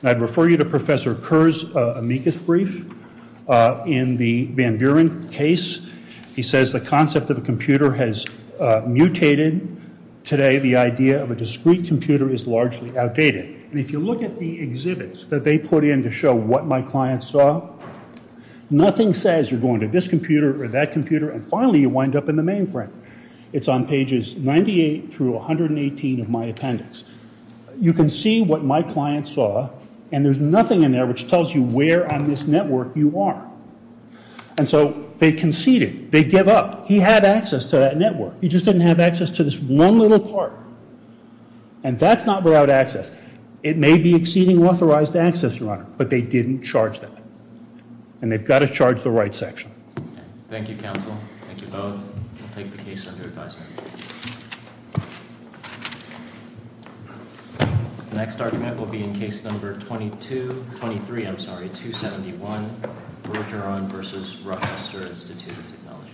and I'd refer you to Professor Kerr's amicus brief in the Van Buren case. He says the concept of a computer has mutated. Today the idea of a discrete computer is largely outdated. And if you look at the exhibits that they put in to show what my clients saw, nothing says you're going to this computer or that computer and finally you wind up in the mainframe. It's on pages 98 through 118 of my appendix. You can see what my clients saw and there's nothing in there which tells you where on this network you are. And so they conceded. They give up. He had access to that network. He just didn't have access to this one little part. And that's not without access. It may be exceeding authorized access, Your Honor, but they didn't charge them. And they've got to charge the right section. Thank you, counsel. Thank you both. We'll take the case under advisement. The next argument will be in case number 22—23, I'm sorry, 271. Bergeron v. Rochester Institute of Technology.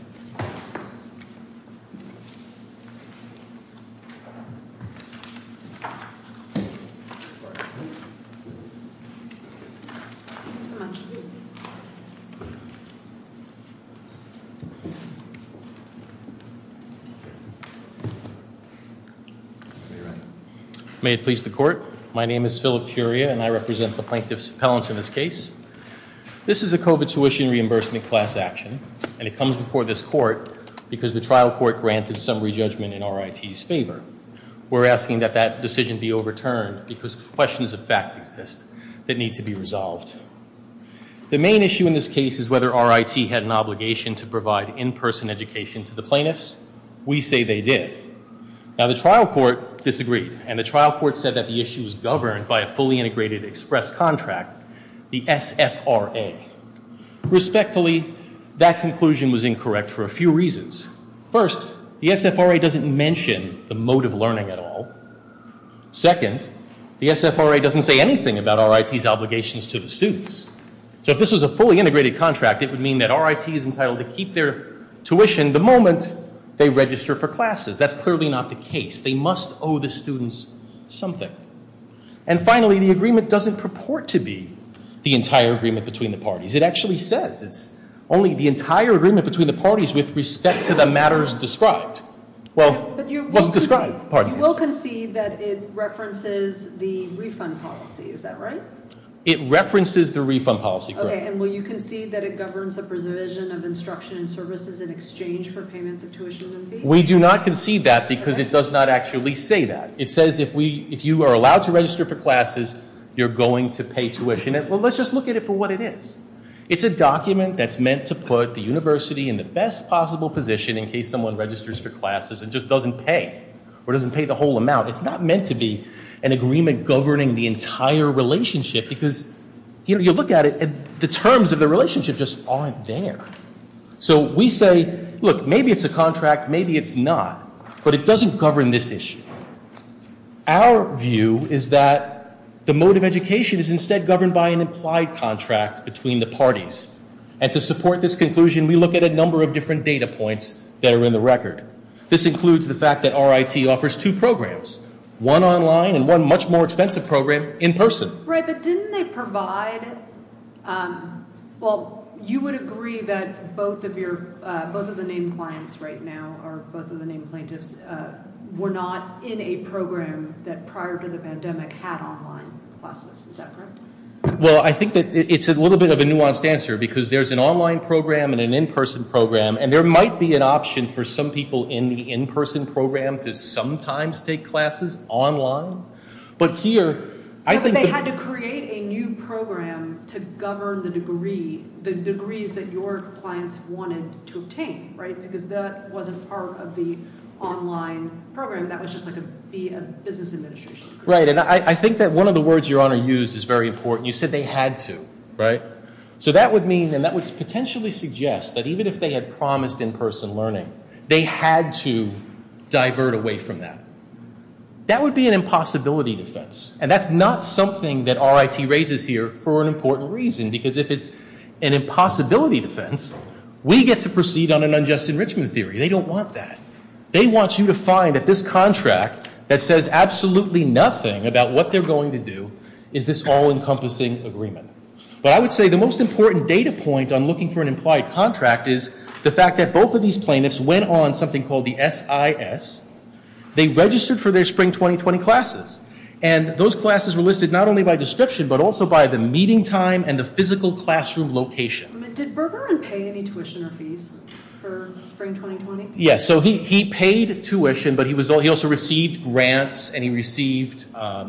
May it please the court. My name is Philip Curia and I represent the plaintiffs' appellants in this case. This is a COVID tuition reimbursement class action and it comes before this court because the trial court granted summary judgment in RIT's favor. We're asking that that decision be overturned because questions of fact exist that need to be resolved. The main issue in this case is whether RIT had an obligation to provide in-person education to the plaintiffs. We say they did. Now the trial court disagreed and the trial court said that the issue was governed by a fully integrated express contract, the SFRA. Respectfully, that conclusion was incorrect for a few reasons. First, the SFRA doesn't mention the mode of learning at all. Second, the SFRA doesn't say anything about RIT's obligations to the students. So if this was a fully integrated contract, it would mean that RIT is entitled to keep their tuition the moment they register for classes. That's clearly not the case. They must owe the students something. And finally, the agreement doesn't purport to be the entire agreement between the parties. It actually says it's only the entire agreement between the parties with respect to the matters described. Well, it wasn't described. Pardon me. You will concede that it references the refund policy, is that right? It references the refund policy, correct. Okay, and will you concede that it governs a provision of instruction and services in exchange for payments of tuition and fees? We do not concede that because it does not actually say that. It says if you are allowed to register for classes, you're going to pay tuition. Let's just look at it for what it is. It's a document that's meant to put the university in the best possible position in case someone registers for classes and just doesn't pay or doesn't pay the whole amount. It's not meant to be an agreement governing the entire relationship because, you know, you look at it and the terms of the relationship just aren't there. So we say, look, maybe it's a contract, maybe it's not, but it doesn't govern this issue. Our view is that the mode of education is instead governed by an implied contract between the parties. And to support this conclusion, we look at a number of different data points that are in the record. This includes the fact that RIT offers two programs, one online and one much more expensive program in person. Right. But didn't they provide. Well, you would agree that both of your both of the named clients right now are both of the named plaintiffs. We're not in a program that prior to the pandemic had online classes. Well, I think that it's a little bit of a nuanced answer because there's an online program and an in-person program. And there might be an option for some people in the in-person program to sometimes take classes online. But here I think they had to create a new program to govern the degree, the degrees that your clients wanted to obtain. Right. Because that wasn't part of the online program. That was just like a business administration. Right. And I think that one of the words your honor used is very important. You said they had to. Right. So that would mean and that would potentially suggest that even if they had promised in-person learning, they had to divert away from that. That would be an impossibility defense. And that's not something that RIT raises here for an important reason. Because if it's an impossibility defense, we get to proceed on an unjust enrichment theory. They don't want that. They want you to find that this contract that says absolutely nothing about what they're going to do is this all encompassing agreement. But I would say the most important data point on looking for an implied contract is the fact that both of these plaintiffs went on something called the SIS. They registered for their spring 2020 classes. And those classes were listed not only by description but also by the meeting time and the physical classroom location. Did Bergeron pay any tuition or fees for spring 2020? Yes. So he paid tuition but he also received grants and he received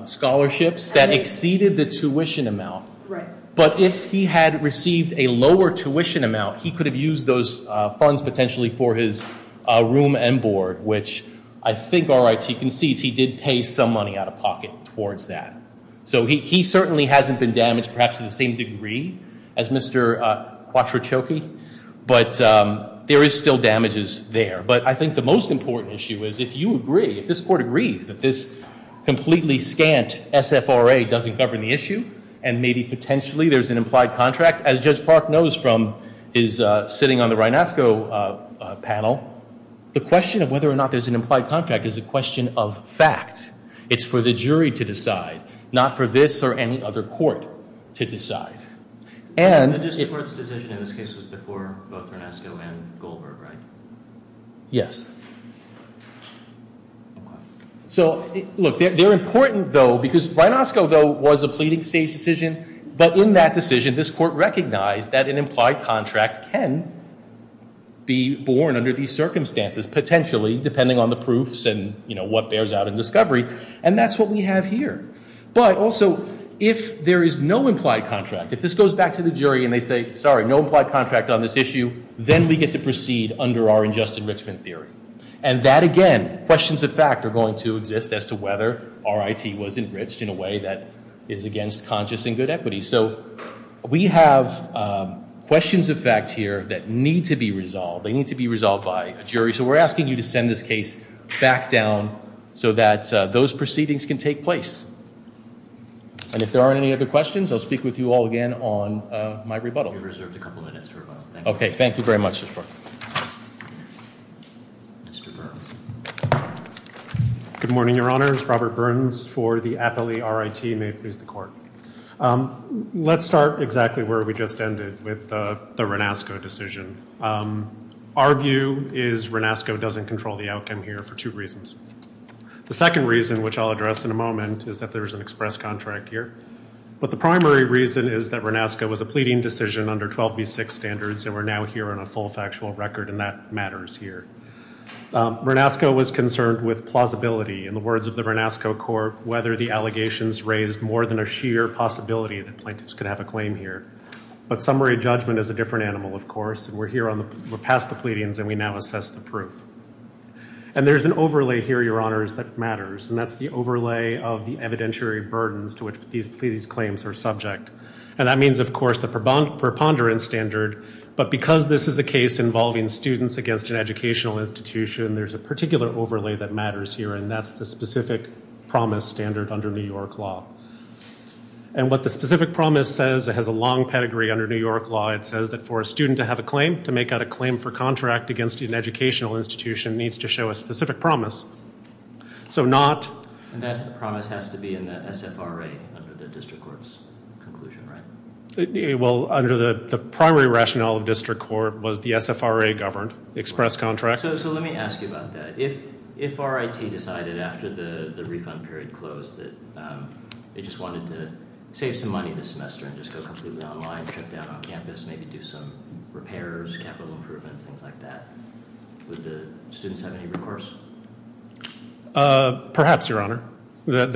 scholarships that exceeded the tuition amount. Right. But if he had received a lower tuition amount, he could have used those funds potentially for his room and board. Which I think RIT concedes he did pay some money out of pocket towards that. So he certainly hasn't been damaged perhaps to the same degree as Mr. Quattrochoki. But there is still damages there. But I think the most important issue is if you agree, if this court agrees that this completely scant SFRA doesn't govern the issue. And maybe potentially there's an implied contract. As Judge Park knows from his sitting on the Rhinosco panel, the question of whether or not there's an implied contract is a question of fact. It's for the jury to decide, not for this or any other court to decide. The district court's decision in this case was before both Rhinosco and Goldberg, right? Yes. So look, they're important though because Rhinosco though was a pleading stage decision. But in that decision, this court recognized that an implied contract can be born under these circumstances. Potentially depending on the proofs and what bears out in discovery. And that's what we have here. But also if there is no implied contract, if this goes back to the jury and they say, sorry, no implied contract on this issue. Then we get to proceed under our unjust enrichment theory. And that again, questions of fact are going to exist as to whether RIT was enriched in a way that is against conscious and good equity. So we have questions of fact here that need to be resolved. They need to be resolved by a jury. So we're asking you to send this case back down so that those proceedings can take place. And if there aren't any other questions, I'll speak with you all again on my rebuttal. You're reserved a couple minutes for rebuttal. Okay, thank you very much. Good morning, Your Honors. Robert Burns for the Appellee RIT. May it please the Court. Let's start exactly where we just ended with the Rhinosco decision. Our view is Rhinosco doesn't control the outcome here for two reasons. The second reason, which I'll address in a moment, is that there is an express contract here. But the primary reason is that Rhinosco was a pleading decision under 12b-6 standards, and we're now here on a full factual record, and that matters here. Rhinosco was concerned with plausibility. In the words of the Rhinosco Court, whether the allegations raised more than a sheer possibility that plaintiffs could have a claim here. But summary judgment is a different animal, of course, and we're past the pleadings, and we now assess the proof. And there's an overlay here, Your Honors, that matters. And that's the overlay of the evidentiary burdens to which these claims are subject. And that means, of course, the preponderance standard. But because this is a case involving students against an educational institution, there's a particular overlay that matters here, and that's the specific promise standard under New York law. And what the specific promise says, it has a long pedigree under New York law. It says that for a student to have a claim, to make out a claim for contract against an educational institution, needs to show a specific promise. So not- And that promise has to be in the SFRA under the district court's conclusion, right? Well, under the primary rationale of district court was the SFRA-governed express contract. So let me ask you about that. If RIT decided after the refund period closed that they just wanted to save some money this semester and just go completely online, shut down on campus, maybe do some repairs, capital improvements, things like that, would the students have any recourse? Perhaps, Your Honor. How?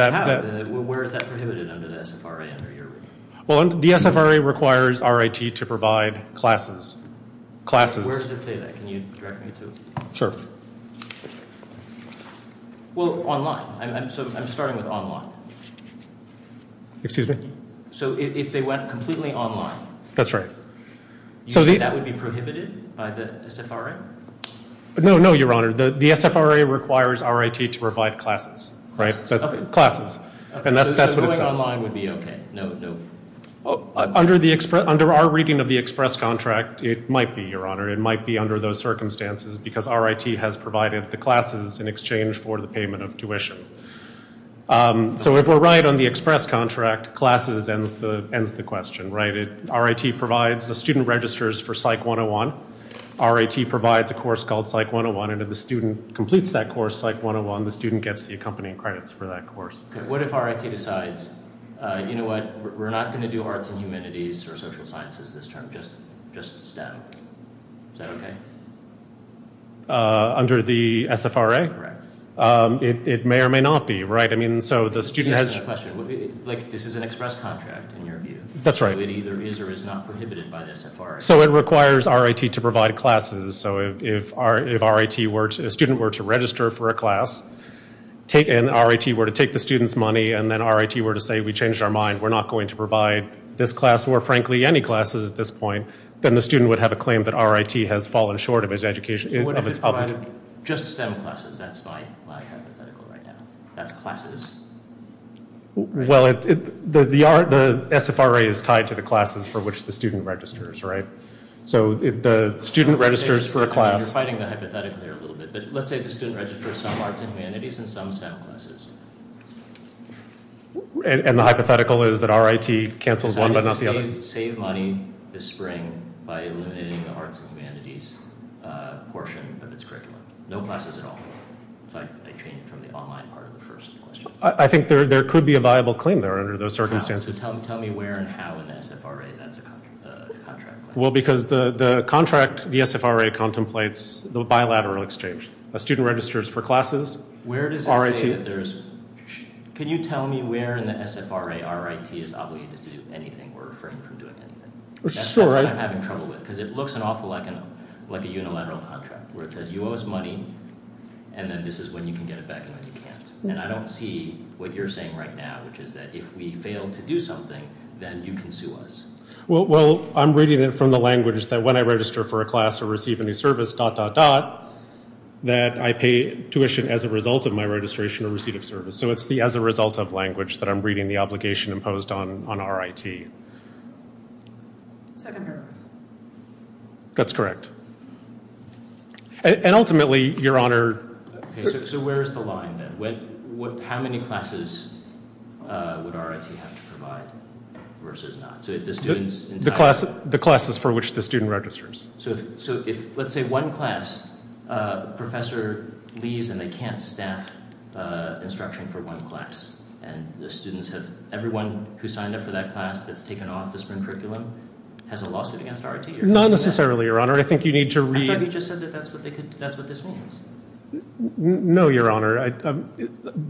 Where is that prohibited under the SFRA under your reading? Well, the SFRA requires RIT to provide classes. Classes. Where does it say that? Can you direct me to it? Sure. Well, online. I'm starting with online. Excuse me? So if they went completely online- That's right. You said that would be prohibited by the SFRA? No, no, Your Honor. The SFRA requires RIT to provide classes, right? Classes. And that's what it says. So going online would be okay? No? Under our reading of the express contract, it might be, Your Honor. It might be under those circumstances because RIT has provided the classes in exchange for the payment of tuition. So if we're right on the express contract, classes ends the question, right? RIT provides the student registers for PSYCH 101. RIT provides a course called PSYCH 101. And if the student completes that course, PSYCH 101, the student gets the accompanying credits for that course. What if RIT decides, you know what, we're not going to do arts and humanities or social sciences this term. Just STEM. Is that okay? Under the SFRA? Correct. It may or may not be, right? I mean, so the student has- Excuse me, I have a question. This is an express contract, in your view. That's right. So it either is or is not prohibited by the SFRA. So it requires RIT to provide classes. So if a student were to register for a class, and RIT were to take the student's money, and then RIT were to say, we changed our mind. We're not going to provide this class or, frankly, any classes at this point, then the student would have a claim that RIT has fallen short of its public- So what if it provided just STEM classes? That's my hypothetical right now. That's classes. Well, the SFRA is tied to the classes for which the student registers, right? So if the student registers for a class- You're fighting the hypothetical here a little bit. But let's say the student registers some arts and humanities and some STEM classes. And the hypothetical is that RIT cancels one but not the other? Save money this spring by eliminating the arts and humanities portion of its curriculum. No classes at all. So I changed from the online part of the first question. I think there could be a viable claim there under those circumstances. How? So tell me where and how in the SFRA that's a contract claim. Well, because the contract, the SFRA contemplates the bilateral exchange. A student registers for classes, RIT- Where does it say that there's- Can you tell me where in the SFRA RIT is obligated to do anything or refrain from doing anything? That's what I'm having trouble with. Because it looks an awful lot like a unilateral contract, where it says you owe us money, and then this is when you can get it back and when you can't. And I don't see what you're saying right now, which is that if we fail to do something, then you can sue us. Well, I'm reading it from the language that when I register for a class or receive any service, dot, dot, dot, that I pay tuition as a result of my registration or receipt of service. So it's the as a result of language that I'm reading the obligation imposed on RIT. Second paragraph. That's correct. And ultimately, Your Honor- So where is the line, then? How many classes would RIT have to provide versus not? So if the students- The classes for which the student registers. So if, let's say, one class, a professor leaves and they can't staff instruction for one class, and the students have- everyone who signed up for that class that's taken off the spring curriculum has a lawsuit against RIT? Not necessarily, Your Honor. I think you need to read- Have you just said that that's what they could- that's what this means? No, Your Honor.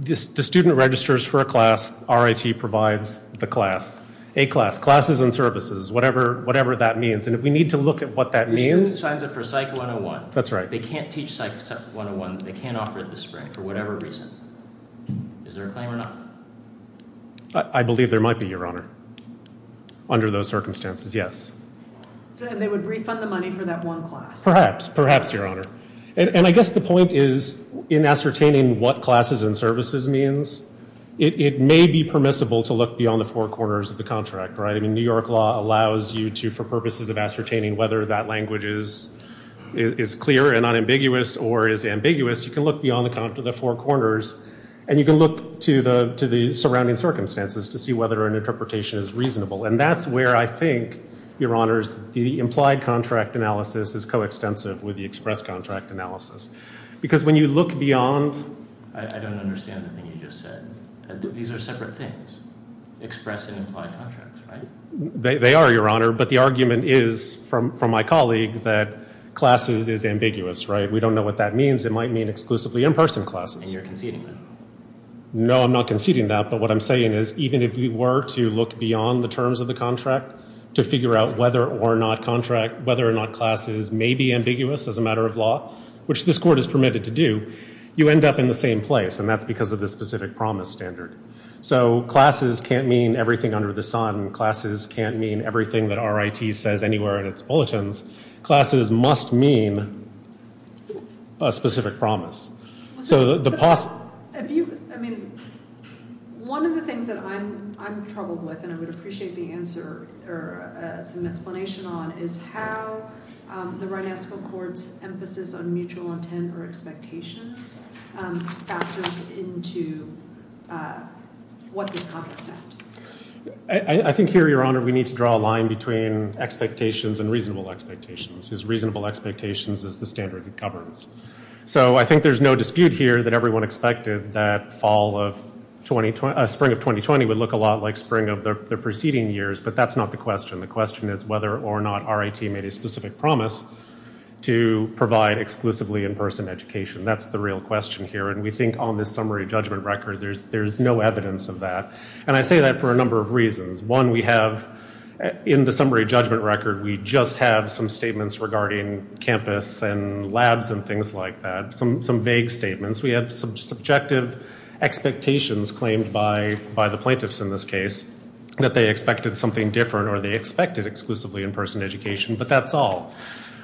The student registers for a class. RIT provides the class. A class. Classes and services. Whatever that means. And if we need to look at what that means- The student signs up for Psych 101. That's right. They can't teach Psych 101. They can't offer it this spring for whatever reason. Is there a claim or not? I believe there might be, Your Honor. Under those circumstances, yes. And they would refund the money for that one class? Perhaps. Perhaps, Your Honor. And I guess the point is, in ascertaining what classes and services means, it may be permissible to look beyond the four corners of the contract, right? I mean, New York law allows you to, for purposes of ascertaining whether that language is clear and unambiguous or is ambiguous, you can look beyond the four corners and you can look to the surrounding circumstances to see whether an interpretation is reasonable. And that's where I think, Your Honor, the implied contract analysis is coextensive with the express contract analysis. Because when you look beyond- I don't understand the thing you just said. These are separate things. Express and implied contracts, right? They are, Your Honor. But the argument is, from my colleague, that classes is ambiguous, right? We don't know what that means. It might mean exclusively in-person classes. And you're conceding that? No, I'm not conceding that. But what I'm saying is, even if you were to look beyond the terms of the contract to figure out whether or not classes may be ambiguous as a matter of law, which this Court has permitted to do, you end up in the same place. And that's because of the specific promise standard. So classes can't mean everything under the sun. Classes can't mean everything that RIT says anywhere in its bulletins. Classes must mean a specific promise. I mean, one of the things that I'm troubled with, and I would appreciate the answer or some explanation on, is how the Rhinestone Court's emphasis on mutual intent or expectations factors into what this contract meant. I think here, Your Honor, we need to draw a line between expectations and reasonable expectations, because reasonable expectations is the standard it governs. So I think there's no dispute here that everyone expected that spring of 2020 would look a lot like spring of the preceding years. But that's not the question. The question is whether or not RIT made a specific promise to provide exclusively in-person education. That's the real question here. And we think on this summary judgment record, there's no evidence of that. And I say that for a number of reasons. One, we have in the summary judgment record, we just have some statements regarding campus and labs and things like that, some vague statements. We have some subjective expectations claimed by the plaintiffs in this case, that they expected something different or they expected exclusively in-person education. But that's all.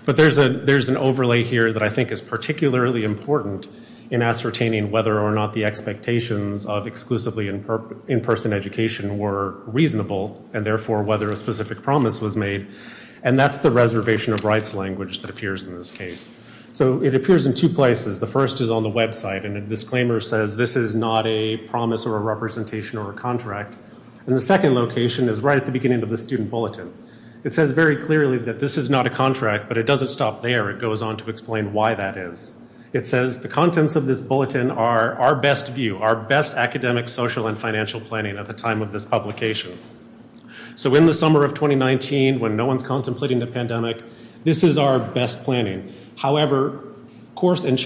But there's an overlay here that I think is particularly important in ascertaining whether or not the expectations of exclusively in-person education were reasonable, and therefore whether a specific promise was made. And that's the reservation of rights language that appears in this case. So it appears in two places. The first is on the website, and the disclaimer says this is not a promise or a representation or a contract. And the second location is right at the beginning of the student bulletin. It says very clearly that this is not a contract, but it doesn't stop there. It goes on to explain why that is. It says the contents of this bulletin are our best view, our best academic, social, and financial planning at the time of this publication. So in the summer of 2019, when no one's contemplating the pandemic, this is our best planning. However, course and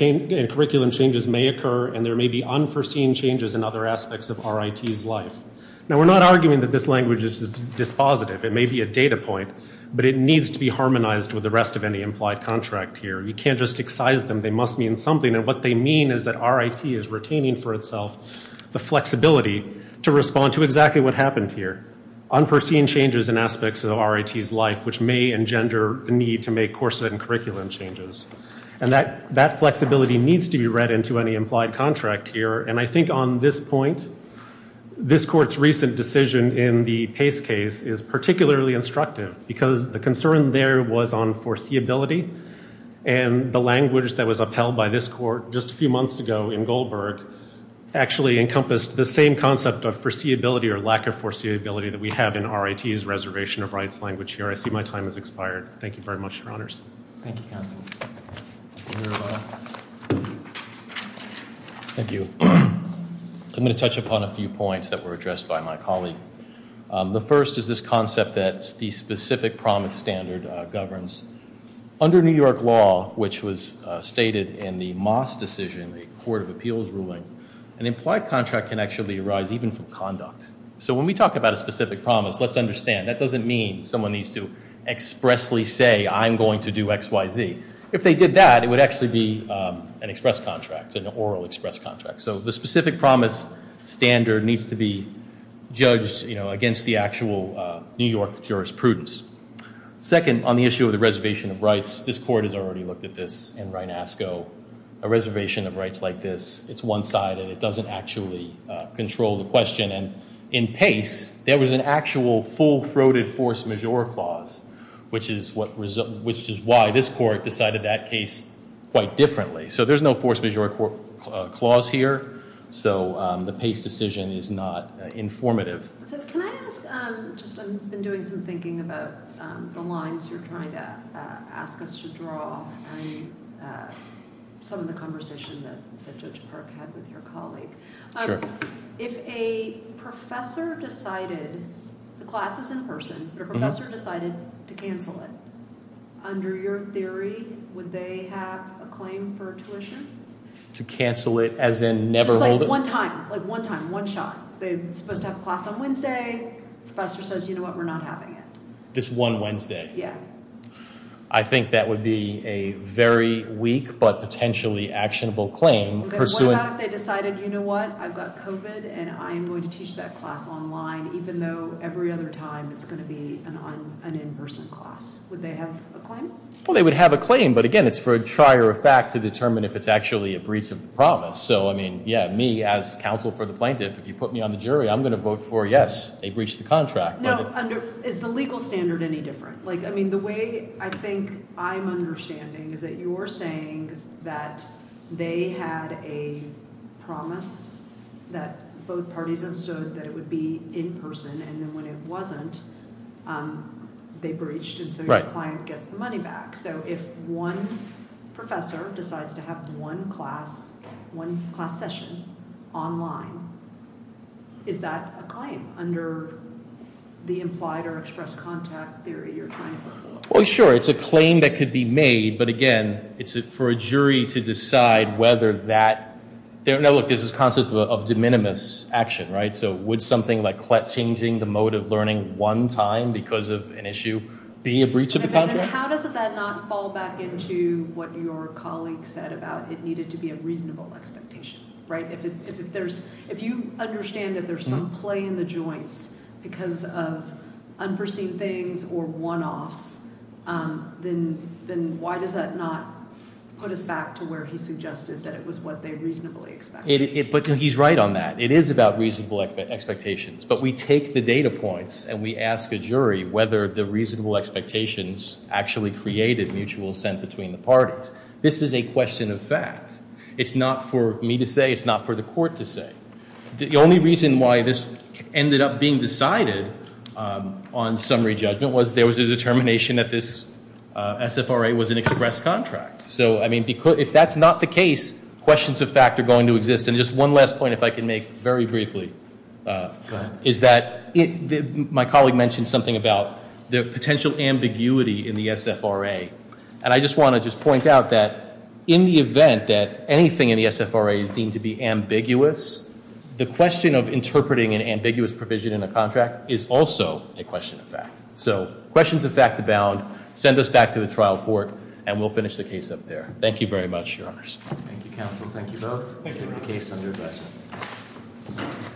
curriculum changes may occur, and there may be unforeseen changes in other aspects of RIT's life. Now, we're not arguing that this language is dispositive. It may be a data point, but it needs to be harmonized with the rest of any implied contract here. You can't just excise them. They must mean something. And what they mean is that RIT is retaining for itself the flexibility to respond to exactly what happened here, unforeseen changes in aspects of RIT's life, which may engender the need to make course and curriculum changes. And that flexibility needs to be read into any implied contract here. And I think on this point, this court's recent decision in the Pace case is particularly instructive because the concern there was on foreseeability. And the language that was upheld by this court just a few months ago in Goldberg actually encompassed the same concept of foreseeability or lack of foreseeability that we have in RIT's reservation of rights language here. I see my time has expired. Thank you very much, Your Honors. Thank you, Counsel. Thank you. I'm going to touch upon a few points that were addressed by my colleague. The first is this concept that the specific promise standard governs. Under New York law, which was stated in the Moss decision, the Court of Appeals ruling, an implied contract can actually arise even from conduct. So when we talk about a specific promise, let's understand. That doesn't mean someone needs to expressly say, I'm going to do X, Y, Z. If they did that, it would actually be an express contract, an oral express contract. So the specific promise standard needs to be judged against the actual New York jurisprudence. Second, on the issue of the reservation of rights, this court has already looked at this in Reinasco. A reservation of rights like this, it's one-sided. It doesn't actually control the question. In Pace, there was an actual full-throated force majeure clause, which is why this court decided that case quite differently. So there's no force majeure clause here. So the Pace decision is not informative. Can I ask, just I've been doing some thinking about the lines you're trying to ask us to draw and some of the conversation that Judge Park had with your colleague. Sure. If a professor decided, the class is in person, but a professor decided to cancel it, under your theory, would they have a claim for tuition? To cancel it as in never hold it? Just like one time, like one time, one shot. They're supposed to have a class on Wednesday. Professor says, you know what, we're not having it. Just one Wednesday? Yeah. I think that would be a very weak but potentially actionable claim. What if they decided, you know what, I've got COVID, and I'm going to teach that class online, even though every other time it's going to be an in-person class? Would they have a claim? Well, they would have a claim. But again, it's for a trier of fact to determine if it's actually a breach of the promise. So I mean, yeah, me as counsel for the plaintiff, if you put me on the jury, I'm going to vote for yes, they breached the contract. No, is the legal standard any different? Like, I mean, the way I think I'm understanding is that you're saying that they had a promise that both parties understood that it would be in-person. And then when it wasn't, they breached. And so your client gets the money back. So if one professor decides to have one class, one class session online, is that a claim under the implied or expressed contact theory you're trying to put forward? Well, sure. It's a claim that could be made. But again, it's for a jury to decide whether that – no, look, this is a concept of de minimis action, right? So would something like changing the mode of learning one time because of an issue be a breach of the contract? How does that not fall back into what your colleague said about it needed to be a reasonable expectation, right? If you understand that there's some play in the joints because of unforeseen things or one-offs, then why does that not put us back to where he suggested that it was what they reasonably expected? But he's right on that. It is about reasonable expectations. But we take the data points and we ask a jury whether the reasonable expectations actually created mutual assent between the parties. This is a question of fact. It's not for me to say. It's not for the court to say. The only reason why this ended up being decided on summary judgment was there was a determination that this SFRA was an expressed contract. So, I mean, if that's not the case, questions of fact are going to exist. And just one last point, if I can make very briefly, is that my colleague mentioned something about the potential ambiguity in the SFRA. And I just want to just point out that in the event that anything in the SFRA is deemed to be ambiguous, the question of interpreting an ambiguous provision in a contract is also a question of fact. So questions of fact abound. Send us back to the trial court, and we'll finish the case up there. Thank you very much, Your Honors. Thank you, counsel. Thank you both. We'll take the case under advisement.